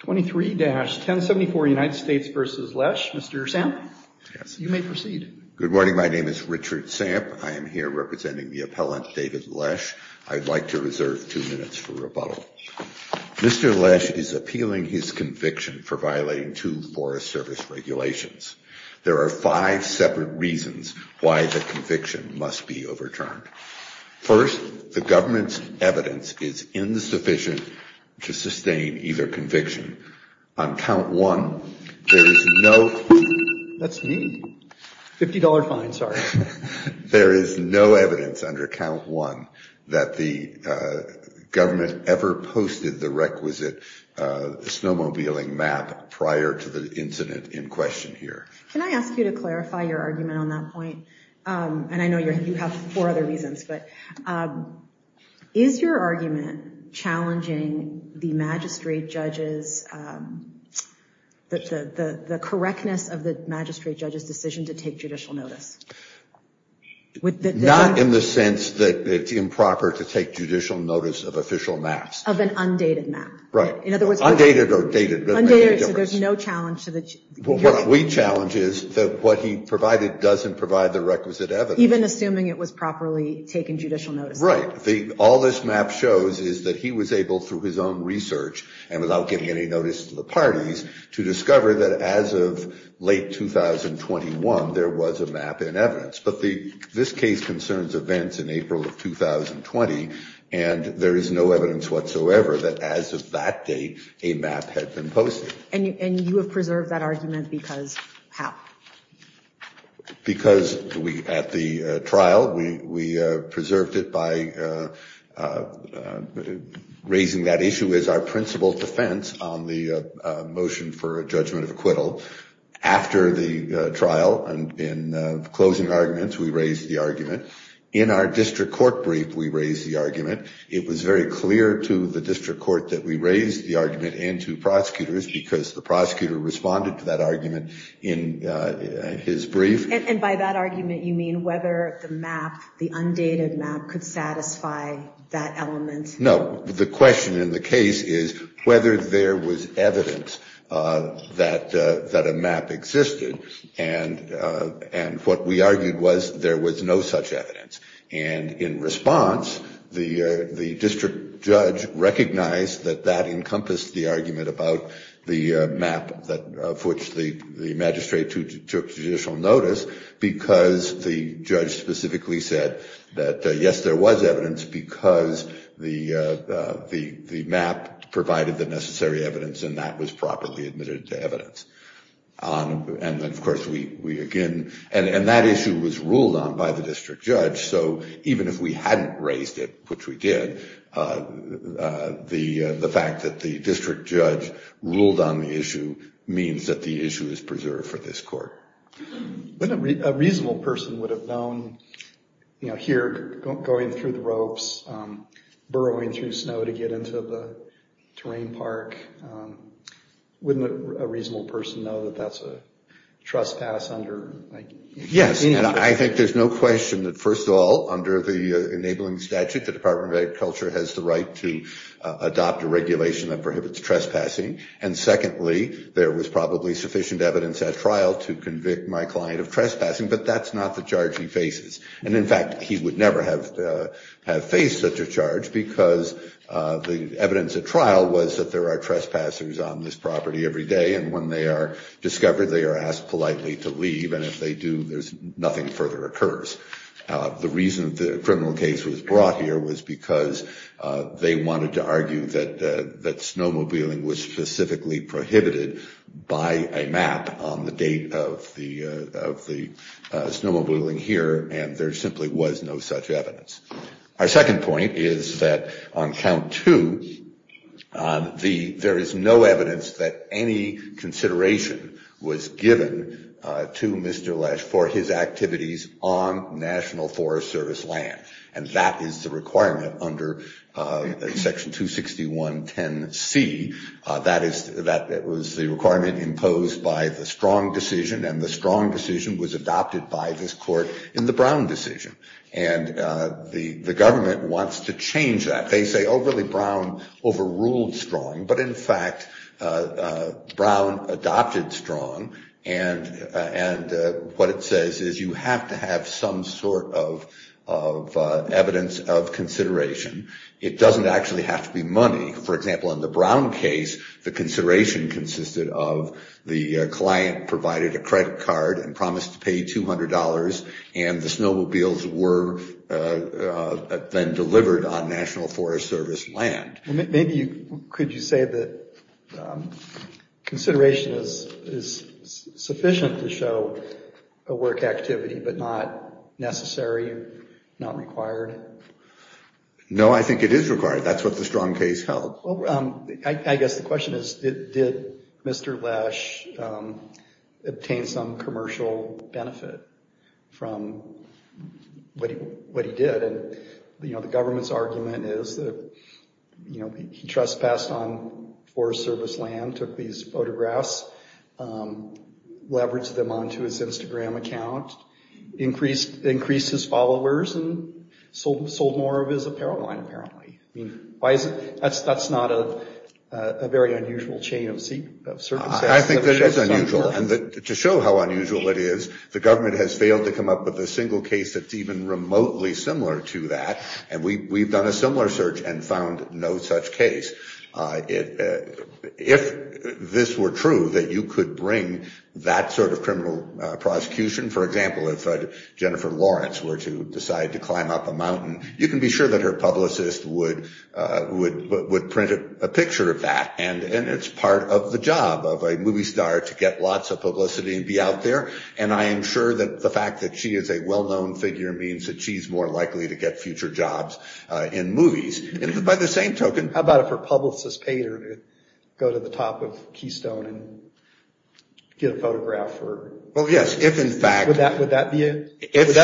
23-1074 United States v. Lesh. Mr. Samp, you may proceed. Good morning. My name is Richard Samp. I am here representing the appellant David Lesh. I'd like to reserve two minutes for rebuttal. Mr. Lesh is appealing his conviction for violating two Forest Service regulations. There are five separate reasons why the conviction must be overturned. First, the government's evidence is insufficient to sustain either conviction. On count one, there is no... That's me. $50 fine, sorry. There is no evidence under count one that the government ever posted the requisite snowmobiling map prior to the incident in question here. Can I ask you to clarify your argument on that point? And I know you have four other reasons, but is your argument challenging the magistrate judge's... the correctness of the magistrate judge's decision to take judicial notice? Not in the sense that it's improper to take judicial notice of official maps. Of an undated map. Right. Undated or dated. Undated, so there's no challenge to the... What we challenge is that what he provided doesn't provide the requisite evidence. Even assuming it was properly taken judicial notice. Right. All this map shows is that he was able, through his own research and without giving any notice to the parties, to discover that as of late 2021, there was a map in evidence. But this case concerns events in April of 2020, and there is no evidence whatsoever that as of that date, a map had been posted. And you have preserved that argument because how? Because at the trial, we preserved it by raising that issue as our principal defense on the motion for a judgment of acquittal. After the trial, in closing arguments, we raised the argument. In our district court brief, we raised the argument. It was very clear to the district court that we raised the argument and to prosecutors, because the prosecutor responded to that argument in his brief. And by that argument, you mean whether the map, the undated map, could satisfy that element? No. The question in the case is whether there was evidence that a map existed. And what we argued was there was no such evidence. And in response, the district judge recognized that that encompassed the argument about the map of which the magistrate took judicial notice, because the judge specifically said that, yes, there was evidence because the map provided the necessary evidence and that was properly admitted to evidence. And then, of course, we, again, and that issue was ruled on by the district judge. So even if we hadn't raised it, which we did, the fact that the district judge ruled on the issue means that the issue is preserved for this court. A reasonable person would have known, you know, here going through the ropes, burrowing through snow to get into the terrain park. Wouldn't a reasonable person know that that's a trespass under? Yes. And I think there's no question that, first of all, under the enabling statute, the Department of Agriculture has the right to adopt a regulation that prohibits trespassing. And secondly, there was probably sufficient evidence at trial to convict my client of trespassing. But that's not the charge he faces. And in fact, he would never have faced such a charge because the evidence at trial was that there are trespassers on this property every day. And when they are discovered, they are asked politely to leave. And if they do, there's nothing further occurs. The reason the criminal case was brought here was because they wanted to argue that snowmobiling was specifically prohibited by a map on the date of the snowmobiling here. And there simply was no such evidence. Our second point is that on count two, there is no evidence that any consideration was given to Mr. Lesch for his activities on National Forest Service land. And that is the requirement under Section 26110C. That was the requirement imposed by the Strong decision. And the Strong decision was adopted by this court in the Brown decision. And the government wants to change that. They say, oh, really, Brown overruled Strong. But in fact, Brown adopted Strong. And what it says is you have to have some sort of evidence of consideration. It doesn't actually have to be money. For example, in the Brown case, the consideration consisted of the client provided a credit card and promised to pay $200. And the snowmobiles were then delivered on National Forest Service land. Maybe could you say that consideration is sufficient to show a work activity but not necessary, not required? No, I think it is required. That's what the Strong case held. I guess the question is, did Mr. Lesch obtain some commercial benefit from what he did? And the government's argument is that he trespassed on Forest Service land, took these photographs, leveraged them onto his Instagram account, increased his followers, and sold more of his apparel line, apparently. I mean, that's not a very unusual chain of circumstances. I think it is unusual. And to show how unusual it is, the government has failed to come up with a single case that's even remotely similar to that. And we've done a similar search and found no such case. If this were true, that you could bring that sort of criminal prosecution, for example, if Jennifer Lawrence were to decide to climb up a mountain, you can be sure that her publicist would print a picture of that. And it's part of the job of a movie star to get lots of publicity and be out there. And I am sure that the fact that she is a well-known figure means that she's more likely to get future jobs in movies. And by the same token, How about if her publicist paid her to go to the top of Keystone and get a photograph? Well, yes. If, in fact,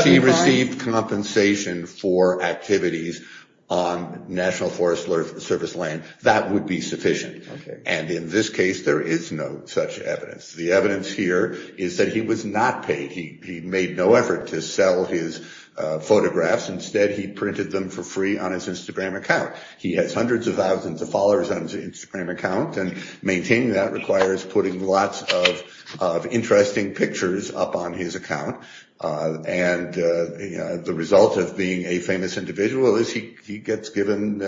she received compensation for activities on National Forest Service land, that would be sufficient. And in this case, there is no such evidence. The evidence here is that he was not paid. He made no effort to sell his photographs. Instead, he printed them for free on his Instagram account. He has hundreds of thousands of followers on his Instagram account. And maintaining that requires putting lots of interesting pictures up on his account. And the result of being a famous individual is he gets given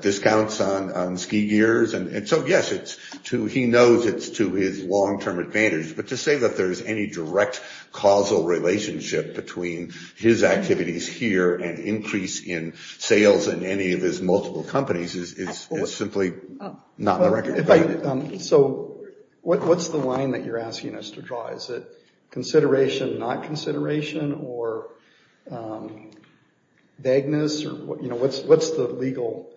discounts on ski gears. And so, yes, he knows it's to his long-term advantage. But to say that there is any direct causal relationship between his activities here and increase in sales in any of his multiple companies is simply not the record. So what's the line that you're asking us to draw? Is it consideration, not consideration? Or vagueness? What's the legal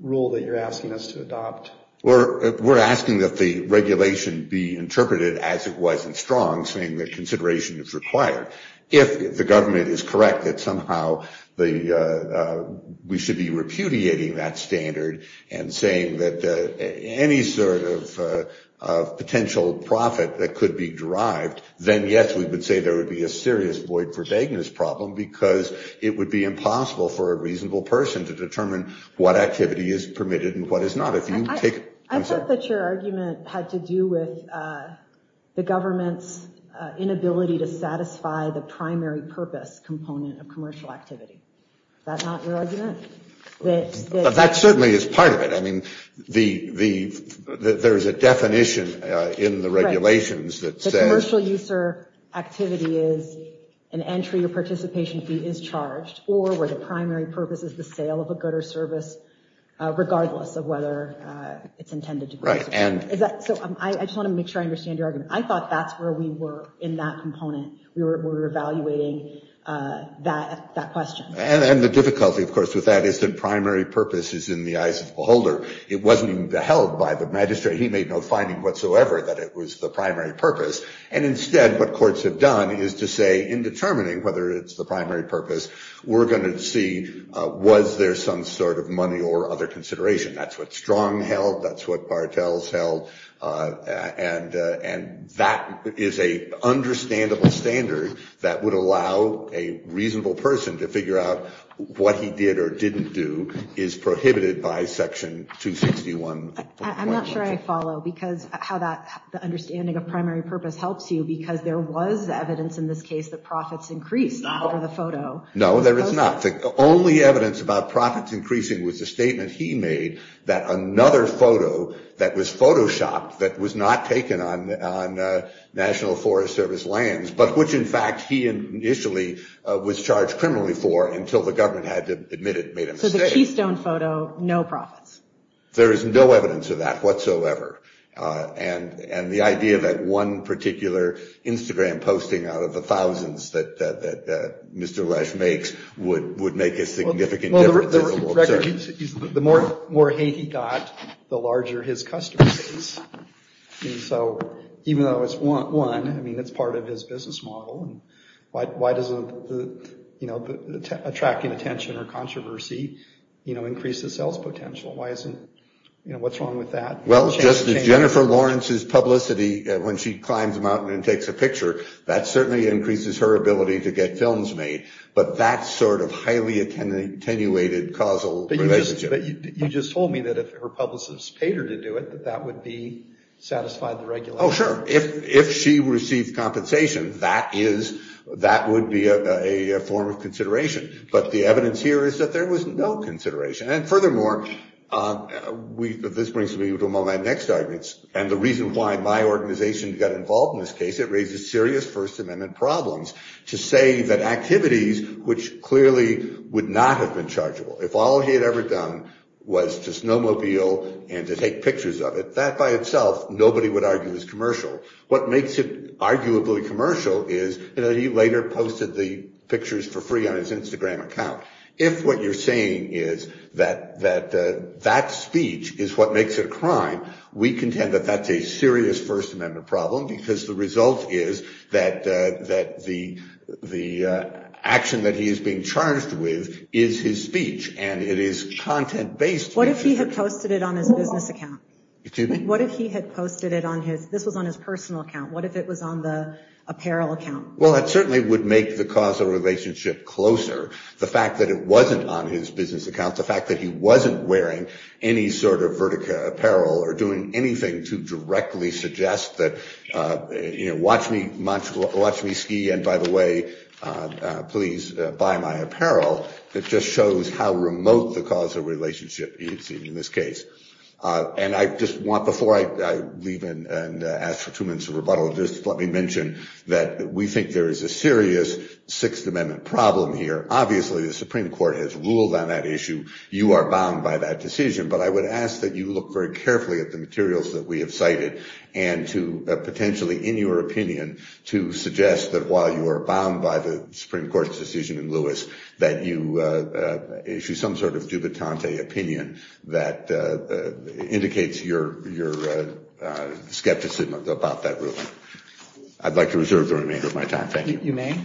rule that you're asking us to adopt? We're asking that the regulation be interpreted as it was in Strong, saying that consideration is required. If the government is correct that somehow we should be repudiating that standard and saying that any sort of potential profit that could be derived, then, yes, we would say there would be a serious void for vagueness problem because it would be impossible for a reasonable person to determine what activity is permitted and what is not. I thought that your argument had to do with the government's inability to satisfy the primary purpose component of commercial activity. Is that not your argument? That certainly is part of it. I mean, there is a definition in the regulations that says... ...or where the primary purpose is the sale of a good or service, regardless of whether it's intended to be. So I just want to make sure I understand your argument. I thought that's where we were in that component. We were evaluating that question. And the difficulty, of course, with that is that primary purpose is in the eyes of the beholder. It wasn't even held by the magistrate. He made no finding whatsoever that it was the primary purpose. And instead, what courts have done is to say, in determining whether it's the primary purpose, we're going to see, was there some sort of money or other consideration? That's what Strong held. That's what Bartels held. And that is an understandable standard that would allow a reasonable person to figure out what he did or didn't do is prohibited by Section 261. I'm not sure I follow how the understanding of primary purpose helps you, because there was evidence in this case that profits increased under the photo. No, there is not. The only evidence about profits increasing was the statement he made that another photo that was Photoshopped, that was not taken on National Forest Service lands, but which, in fact, he initially was charged criminally for until the government had to admit it and made a mistake. So the keystone photo, no profits. There is no evidence of that whatsoever. And the idea that one particular Instagram posting out of the thousands that Mr. Lesch makes would make a significant difference. The more hate he got, the larger his customers. And so even though it's one, I mean, it's part of his business model. Why doesn't, you know, attracting attention or controversy, you know, increase the sales potential? Why isn't, you know, what's wrong with that? Well, Jennifer Lawrence's publicity when she climbs a mountain and takes a picture, that certainly increases her ability to get films made. But that sort of highly attenuated causal relationship. But you just told me that if her publicist paid her to do it, that that would be satisfied the regulation. Oh, sure. If if she received compensation, that is that would be a form of consideration. But the evidence here is that there was no consideration. And furthermore, we this brings me to my next arguments. And the reason why my organization got involved in this case, it raises serious First Amendment problems to say that activities, which clearly would not have been chargeable if all he had ever done was to snowmobile and to take pictures of it, that by itself, nobody would argue is commercial. What makes it arguably commercial is that he later posted the pictures for free on his Instagram account. If what you're saying is that that that speech is what makes it a crime, we contend that that's a serious First Amendment problem because the result is that that the the action that he is being charged with is his speech. And it is content based. What if he had posted it on his business account? What if he had posted it on his this was on his personal account? What if it was on the apparel account? Well, it certainly would make the causal relationship closer. The fact that it wasn't on his business account, the fact that he wasn't wearing any sort of vertical apparel or doing anything to directly suggest that, watch me, watch me ski. And by the way, please buy my apparel. It just shows how remote the causal relationship is in this case. And I just want before I leave and ask for two minutes of rebuttal, just let me mention that we think there is a serious Sixth Amendment problem here. Obviously, the Supreme Court has ruled on that issue. You are bound by that decision. But I would ask that you look very carefully at the materials that we have cited and to potentially, in your opinion, to suggest that while you are bound by the Supreme Court's decision in Lewis, that you issue some sort of jubilante opinion that indicates your skepticism about that ruling. I'd like to reserve the remainder of my time. You may.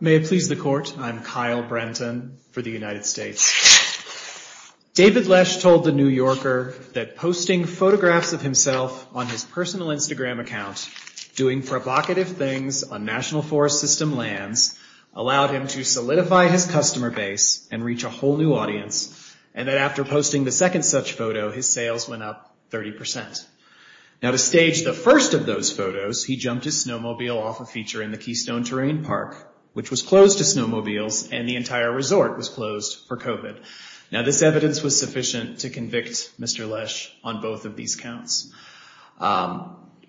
May it please the court, I'm Kyle Brenton for the United States. David Lesh told The New Yorker that posting photographs of himself on his personal Instagram account, doing provocative things on National Forest System lands, allowed him to solidify his customer base and reach a whole new audience. And that after posting the second such photo, his sales went up 30 percent. Now, to stage the first of those photos, he jumped his snowmobile off a feature in the Keystone Terrain Park, which was closed to snowmobiles and the entire resort was closed for COVID. Now, this evidence was sufficient to convict Mr. Lesh on both of these counts.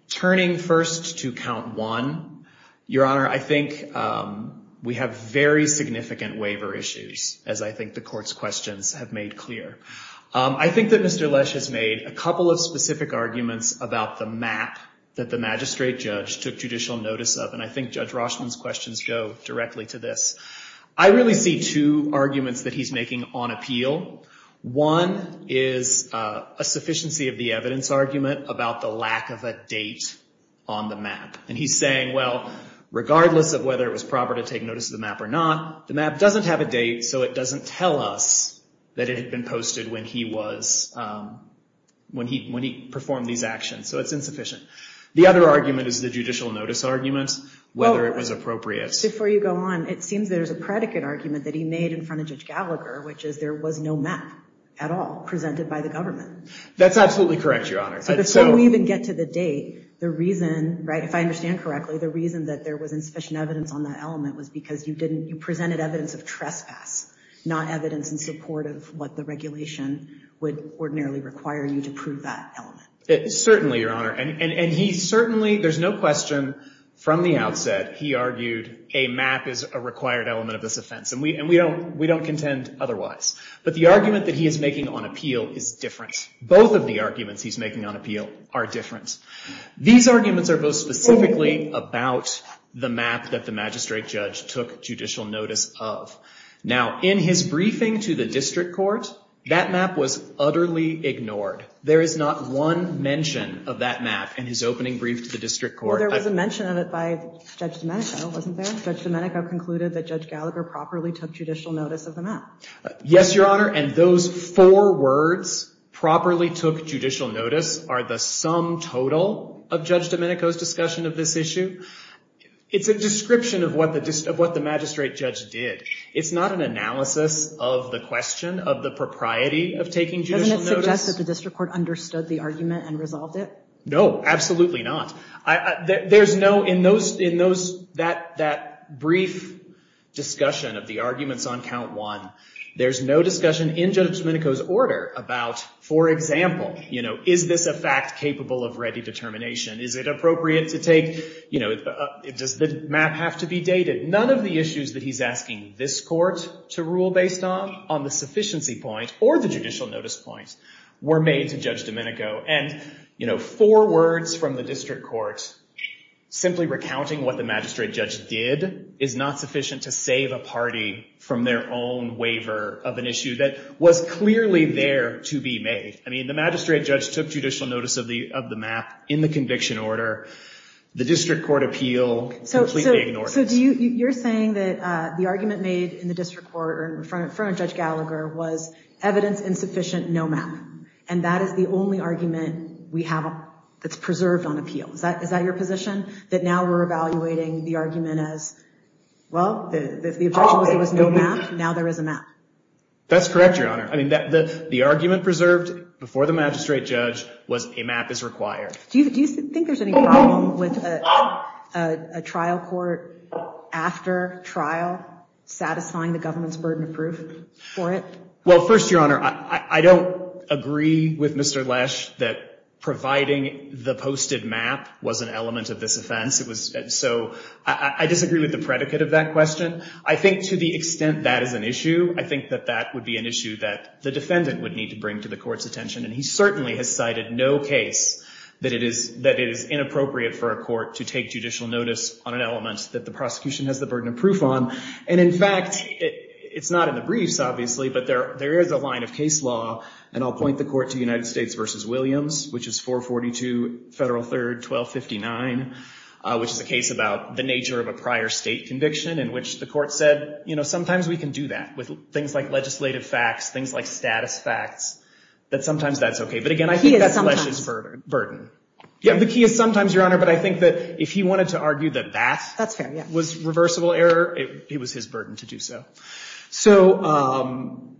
Turning first to count one, Your Honor, I think we have very significant waiver issues, as I think the court's questions have made clear. I think that Mr. Lesh has made a couple of specific arguments about the map that the magistrate judge took judicial notice of. And I think Judge Roshman's questions go directly to this. I really see two arguments that he's making on appeal. One is a sufficiency of the evidence argument about the lack of a date on the map. And he's saying, well, regardless of whether it was proper to take notice of the map or not, the map doesn't have a date, so it doesn't tell us that it had been posted when he performed these actions. So it's insufficient. The other argument is the judicial notice argument, whether it was appropriate. Before you go on, it seems there's a predicate argument that he made in front of Judge Gallagher, which is there was no map at all presented by the government. That's absolutely correct, Your Honor. Before we even get to the date, the reason, if I understand correctly, the reason that there was insufficient evidence on that element was because you presented evidence of trespass, not evidence in support of what the regulation would ordinarily require you to prove that element. Certainly, Your Honor. And he certainly, there's no question from the outset, he argued a map is a required element of this offense. And we don't contend otherwise. But the argument that he is making on appeal is different. Both of the arguments he's making on appeal are different. These arguments are both specifically about the map that the magistrate judge took judicial notice of. Now, in his briefing to the district court, that map was utterly ignored. There is not one mention of that map in his opening brief to the district court. Well, there was a mention of it by Judge Domenico, wasn't there? Judge Domenico concluded that Judge Gallagher properly took judicial notice of the map. Yes, Your Honor, and those four words, properly took judicial notice, are the sum total of Judge Domenico's discussion of this issue. It's a description of what the magistrate judge did. It's not an analysis of the question of the propriety of taking judicial notice. Doesn't it suggest that the district court understood the argument and resolved it? No, absolutely not. There's no, in that brief discussion of the arguments on count one, there's no discussion in Judge Domenico's order about, for example, is this a fact capable of ready determination? Is it appropriate to take, does the map have to be dated? None of the issues that he's asking this court to rule based on, on the sufficiency point or the judicial notice point, were made to Judge Domenico. And, you know, four words from the district court, simply recounting what the magistrate judge did, is not sufficient to save a party from their own waiver of an issue that was clearly there to be made. I mean, the magistrate judge took judicial notice of the map in the conviction order. The district court appeal completely ignored it. So you're saying that the argument made in the district court in front of Judge Gallagher was evidence insufficient, no map. And that is the only argument we have that's preserved on appeal. Is that your position? That now we're evaluating the argument as, well, the objection was there was no map. Now there is a map. That's correct, Your Honor. I mean, the argument preserved before the magistrate judge was a map is required. Do you think there's any problem with a trial court after trial satisfying the government's burden of proof for it? Well, first, Your Honor, I don't agree with Mr. Lesh that providing the posted map was an element of this offense. So I disagree with the predicate of that question. I think to the extent that is an issue, I think that that would be an issue that the defendant would need to bring to the court's attention. And he certainly has cited no case that it is inappropriate for a court to take judicial notice on an element that the prosecution has the burden of proof on. And in fact, it's not in the briefs, obviously, but there is a line of case law. And I'll point the court to United States v. Williams, which is 442 Federal 3rd 1259, which is a case about the nature of a prior state conviction in which the court said, you know, sometimes we can do that with things like legislative facts, things like status facts, that sometimes that's OK. But again, I think that's Lesh's burden. Yeah, the key is sometimes, Your Honor. But I think that if he wanted to argue that that was reversible error, it was his burden to do so. So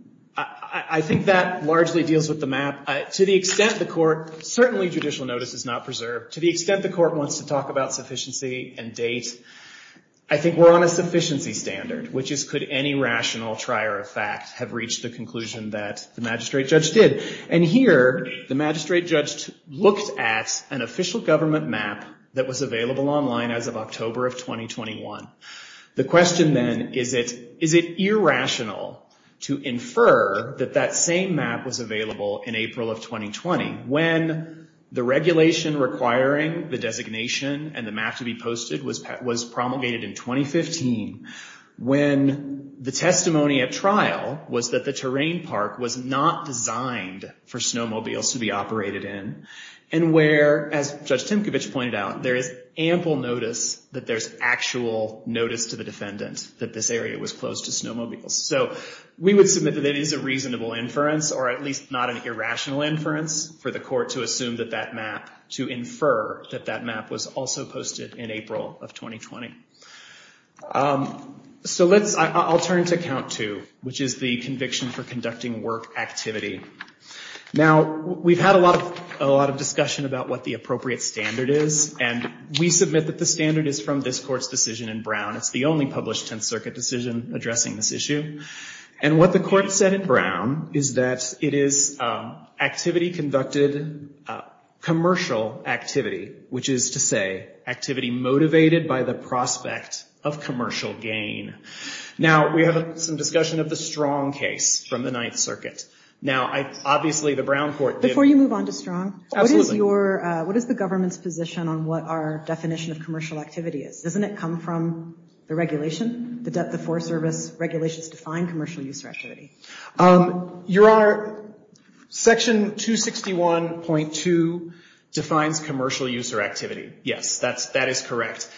I think that largely deals with the map. To the extent the court, certainly judicial notice is not preserved. To the extent the court wants to talk about sufficiency and date, I think we're on a sufficiency standard, which is could any rational trier of fact have reached the conclusion that the magistrate judge did? And here, the magistrate judge looked at an official government map that was available online as of October of 2021. The question then, is it irrational to infer that that same map was available in April of 2020, when the regulation requiring the designation and the map to be posted was promulgated in 2015, when the testimony at trial was that the terrain park was not designed for snowmobiles to be operated in, and where, as Judge Timkovich pointed out, there is ample notice that there's actual notice to the defendant that this area was closed to snowmobiles. So we would submit that it is a reasonable inference, or at least not an irrational inference, for the court to assume that that map, to infer that that map was also posted in April of 2020. So let's, I'll turn to count two, which is the conviction for conducting work activity. Now, we've had a lot of discussion about what the appropriate standard is, and we submit that the standard is from this court's decision in Brown. It's the only published Tenth Circuit decision addressing this issue. And what the court said in Brown is that it is activity conducted, commercial activity, which is to say activity motivated by the prospect of commercial gain. Now, we have some discussion of the Strong case from the Ninth Circuit. Now, obviously, the Brown court did- Before you move on to Strong- Absolutely. What is the government's position on what our definition of commercial activity is? Doesn't it come from the regulation? The Forest Service regulations define commercial user activity. Your Honor, section 261.2 defines commercial user activity. Yes, that is correct.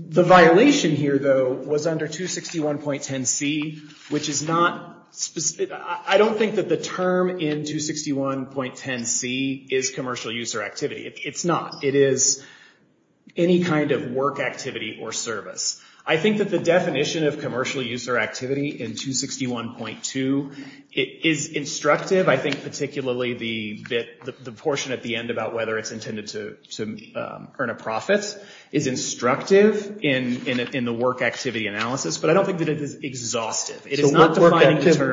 The violation here, though, was under 261.10c, which is not specific. I don't think that the term in 261.10c is commercial user activity. It's not. It is any kind of work activity or service. I think that the definition of commercial user activity in 261.2 is instructive. I think particularly the portion at the end about whether it's intended to earn a profit is instructive in the work activity analysis, but I don't think that it is exhaustive. So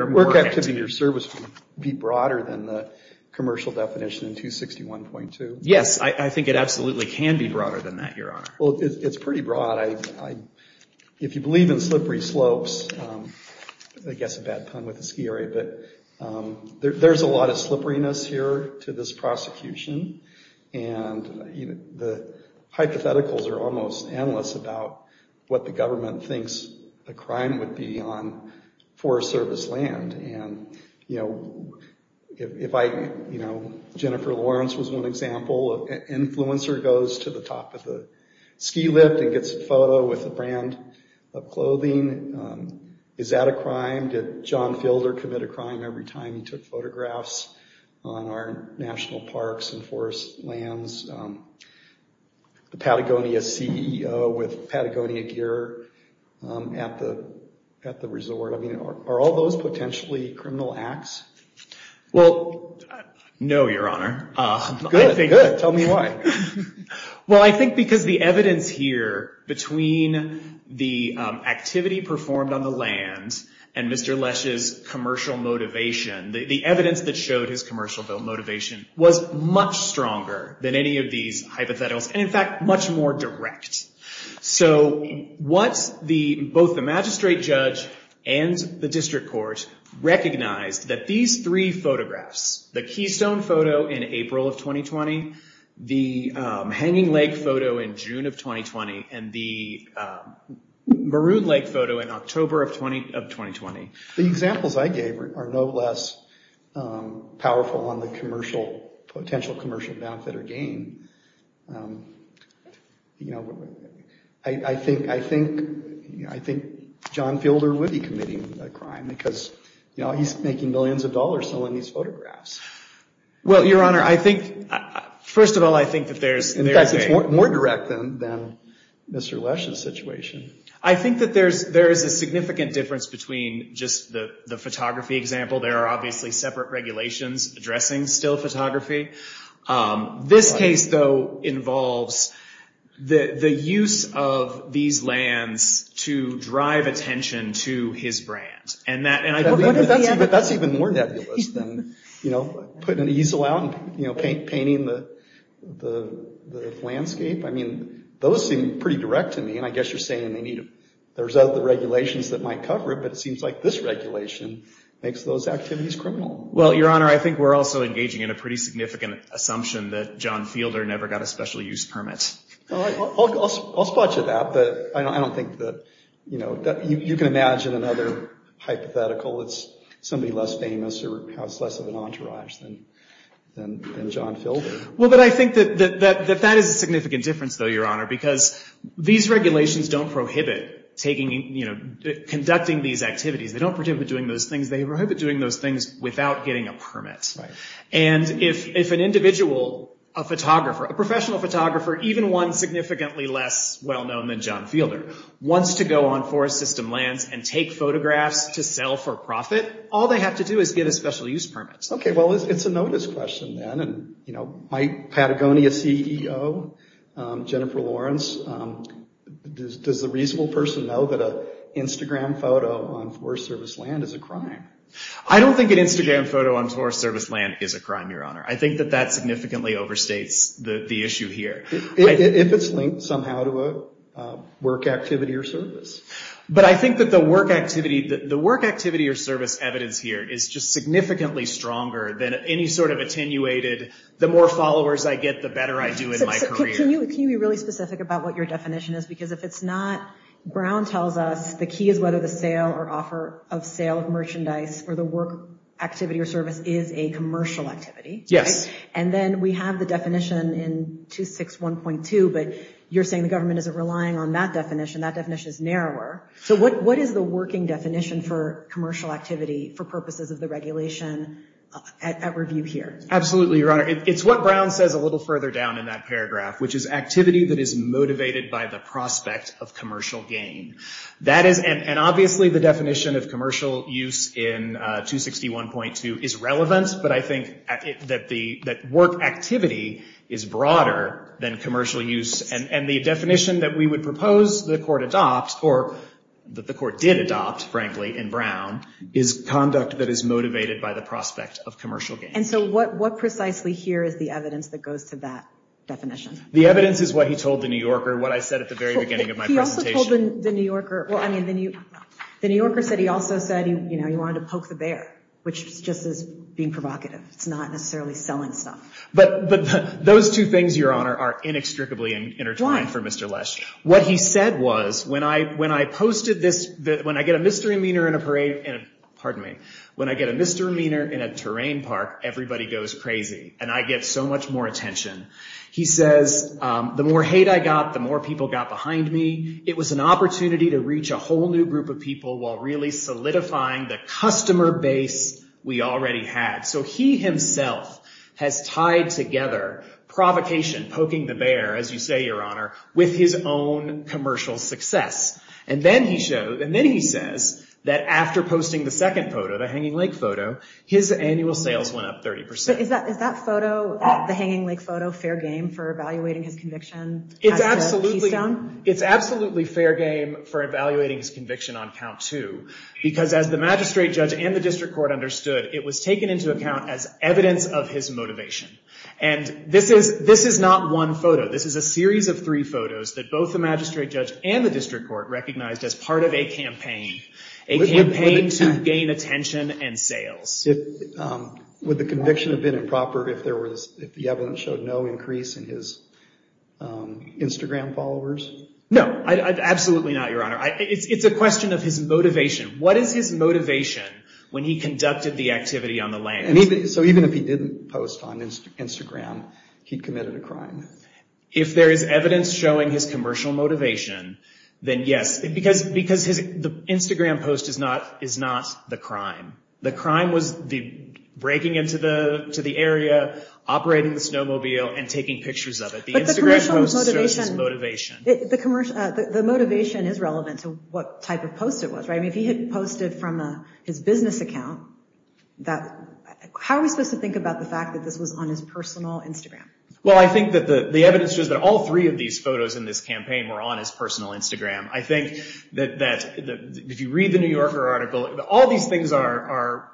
work activity or service would be broader than the commercial definition in 261.2? Yes, I think it absolutely can be broader than that, Your Honor. Well, it's pretty broad. If you believe in slippery slopes, I guess a bad pun with the ski area, but there's a lot of slipperiness here to this prosecution, and the hypotheticals are almost endless about what the government thinks a crime would be on Forest Service land. Jennifer Lawrence was one example. An influencer goes to the top of the ski lift and gets a photo with a brand of clothing. Is that a crime? Did John Filder commit a crime every time he took photographs on our national parks and forest lands? The Patagonia CEO with Patagonia gear at the resort. I mean, are all those potentially criminal acts? Well, no, Your Honor. Good, good. Tell me why. Well, I think because the evidence here between the activity performed on the land and Mr. Lesh's commercial motivation, the evidence that showed his commercial motivation was much stronger than any of these hypotheticals, and in fact, much more direct. So both the magistrate judge and the district court recognized that these three photographs, the Keystone photo in April of 2020, the Hanging Lake photo in June of 2020, and the Maroon Lake photo in October of 2020. The examples I gave are no less powerful on the potential commercial benefit or gain. You know, I think John Filder would be committing a crime because, you know, he's making millions of dollars selling these photographs. Well, Your Honor, I think, first of all, I think that there's... In fact, it's more direct than Mr. Lesh's situation. I think that there is a significant difference between just the photography example. There are obviously separate regulations addressing still photography. This case, though, involves the use of these lands to drive attention to his brand, and that's even more nebulous than, you know, putting an easel out and painting the landscape. I mean, those seem pretty direct to me, and I guess you're saying they need... There's other regulations that might cover it, but it seems like this regulation makes those activities criminal. Well, Your Honor, I think we're also engaging in a pretty significant assumption that John Filder never got a special use permit. I'll spot you that, but I don't think that, you know... You can imagine another hypothetical. It's somebody less famous or has less of an entourage than John Filder. Well, but I think that that is a significant difference, though, Your Honor, because these regulations don't prohibit conducting these activities. They don't prohibit doing those things. They prohibit doing those things without getting a permit. And if an individual, a photographer, a professional photographer, even one significantly less well-known than John Filder, wants to go on forest system lands and take photographs to sell for profit, all they have to do is get a special use permit. Okay, well, it's a notice question, then. And, you know, my Patagonia CEO, Jennifer Lawrence, does the reasonable person know that an Instagram photo on forest service land is a crime? I don't think an Instagram photo on forest service land is a crime, Your Honor. I think that that significantly overstates the issue here. If it's linked somehow to a work activity or service. But I think that the work activity or service evidence here is just significantly stronger than any sort of attenuated, the more followers I get, the better I do in my career. Can you be really specific about what your definition is? Because if it's not, Brown tells us the key is whether the sale or offer of sale of merchandise or the work activity or service is a commercial activity. Yes. And then we have the definition in 261.2, but you're saying the government isn't relying on that definition. That definition is narrower. So what is the working definition for commercial activity for purposes of the regulation at review here? Absolutely, Your Honor. It's what Brown says a little further down in that paragraph, which is activity that is motivated by the prospect of commercial gain. And obviously the definition of commercial use in 261.2 is relevant, but I think that work activity is broader than commercial use. And the definition that we would propose the court adopt, or that the court did adopt, frankly, in Brown, is conduct that is motivated by the prospect of commercial gain. And so what precisely here is the evidence that goes to that definition? The evidence is what he told the New Yorker, what I said at the very beginning of my presentation. He also told the New Yorker, well, I mean, the New Yorker said he also said, you know, he wanted to poke the bear, which just is being provocative. It's not necessarily selling stuff. But those two things, Your Honor, are inextricably intertwined for Mr. Lesh. What he said was, when I posted this, when I get a misdemeanor in a parade, pardon me, when I get a misdemeanor in a terrain park, everybody goes crazy, and I get so much more attention. He says, the more hate I got, the more people got behind me. It was an opportunity to reach a whole new group of people while really solidifying the customer base we already had. So he himself has tied together provocation, poking the bear, as you say, Your Honor, with his own commercial success. And then he says that after posting the second photo, the Hanging Lake photo, his annual sales went up 30%. But is that photo, the Hanging Lake photo, fair game for evaluating his conviction? It's absolutely fair game for evaluating his conviction on count two, because as the magistrate judge and the district court understood, it was taken into account as evidence of his motivation. And this is not one photo. This is a series of three photos that both the magistrate judge and the district court recognized as part of a campaign, a campaign to gain attention and sales. Would the conviction have been improper if the evidence showed no increase in his Instagram followers? No, absolutely not, Your Honor. It's a question of his motivation. What is his motivation when he conducted the activity on the land? So even if he didn't post on Instagram, he'd committed a crime? If there is evidence showing his commercial motivation, then yes. Because the Instagram post is not the crime. The crime was breaking into the area, operating the snowmobile, and taking pictures of it. The Instagram post shows his motivation. The motivation is relevant to what type of post it was, right? I mean, if he had posted from his business account, how are we supposed to think about the fact that this was on his personal Instagram? Well, I think that the evidence shows that all three of these photos in this campaign were on his personal Instagram. I think that if you read the New Yorker article, all these things are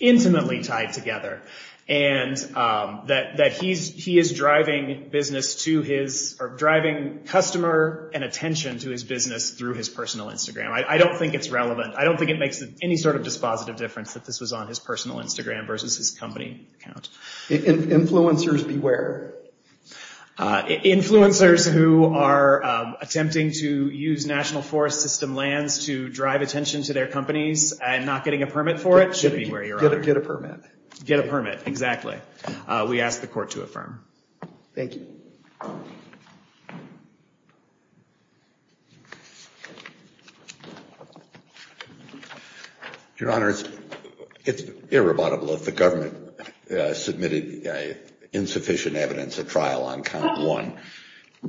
intimately tied together, and that he is driving customer and attention to his business through his personal Instagram. I don't think it's relevant. I don't think it makes any sort of dispositive difference that this was on his personal Instagram versus his company account. Influencers beware. Influencers who are attempting to use National Forest System lands to drive attention to their companies and not getting a permit for it should be where you're at. Get a permit. Get a permit, exactly. We ask the court to affirm. Thank you. Your Honor, it's irrebuttable that the government submitted insufficient evidence at trial on count one.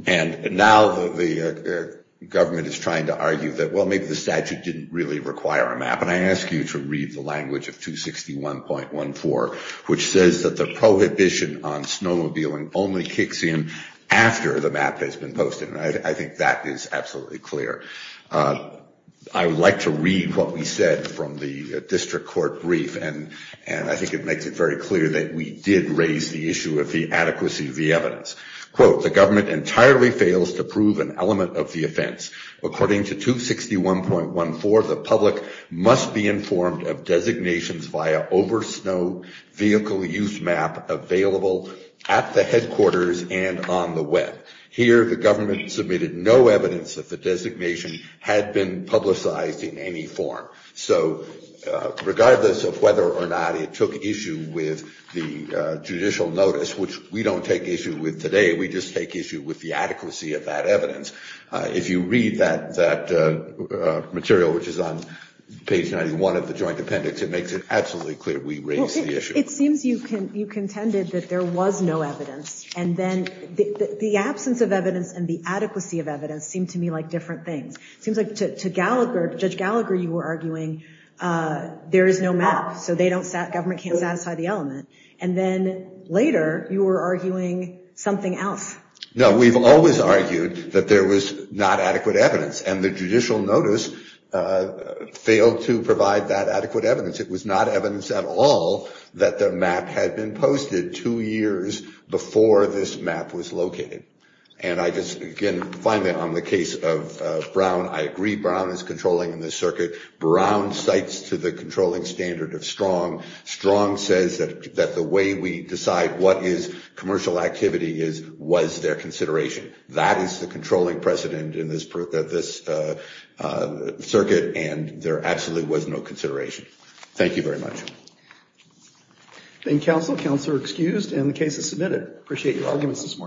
And now the government is trying to argue that, well, maybe the statute didn't really require a map. And I ask you to read the language of 261.14, which says that the prohibition on snowmobiling only kicks in after the map has been posted. And I think that is absolutely clear. I would like to read what we said from the district court brief, and I think it makes it very clear that we did raise the issue of the adequacy of the evidence. Quote, the government entirely fails to prove an element of the offense. According to 261.14, the public must be informed of designations via over-snow vehicle use map available at the headquarters and on the web. Here the government submitted no evidence that the designation had been publicized in any form. So regardless of whether or not it took issue with the judicial notice, which we don't take issue with today, we just take issue with the adequacy of that evidence. If you read that material, which is on page 91 of the joint appendix, it makes it absolutely clear we raised the issue. It seems you contended that there was no evidence, and then the absence of evidence and the adequacy of evidence seemed to me like different things. It seems like to Judge Gallagher you were arguing there is no map, so government can't satisfy the element. And then later you were arguing something else. No, we've always argued that there was not adequate evidence, and the judicial notice failed to provide that adequate evidence. It was not evidence at all that the map had been posted two years before this map was located. And I just, again, finally on the case of Brown, I agree Brown is controlling the circuit. Brown cites to the controlling standard of Strong. Strong says that the way we decide what is commercial activity is, was their consideration. That is the controlling precedent in this circuit, and there absolutely was no consideration. Thank you very much. Thank you, counsel. Counselor excused, and the case is submitted. I appreciate your arguments this morning.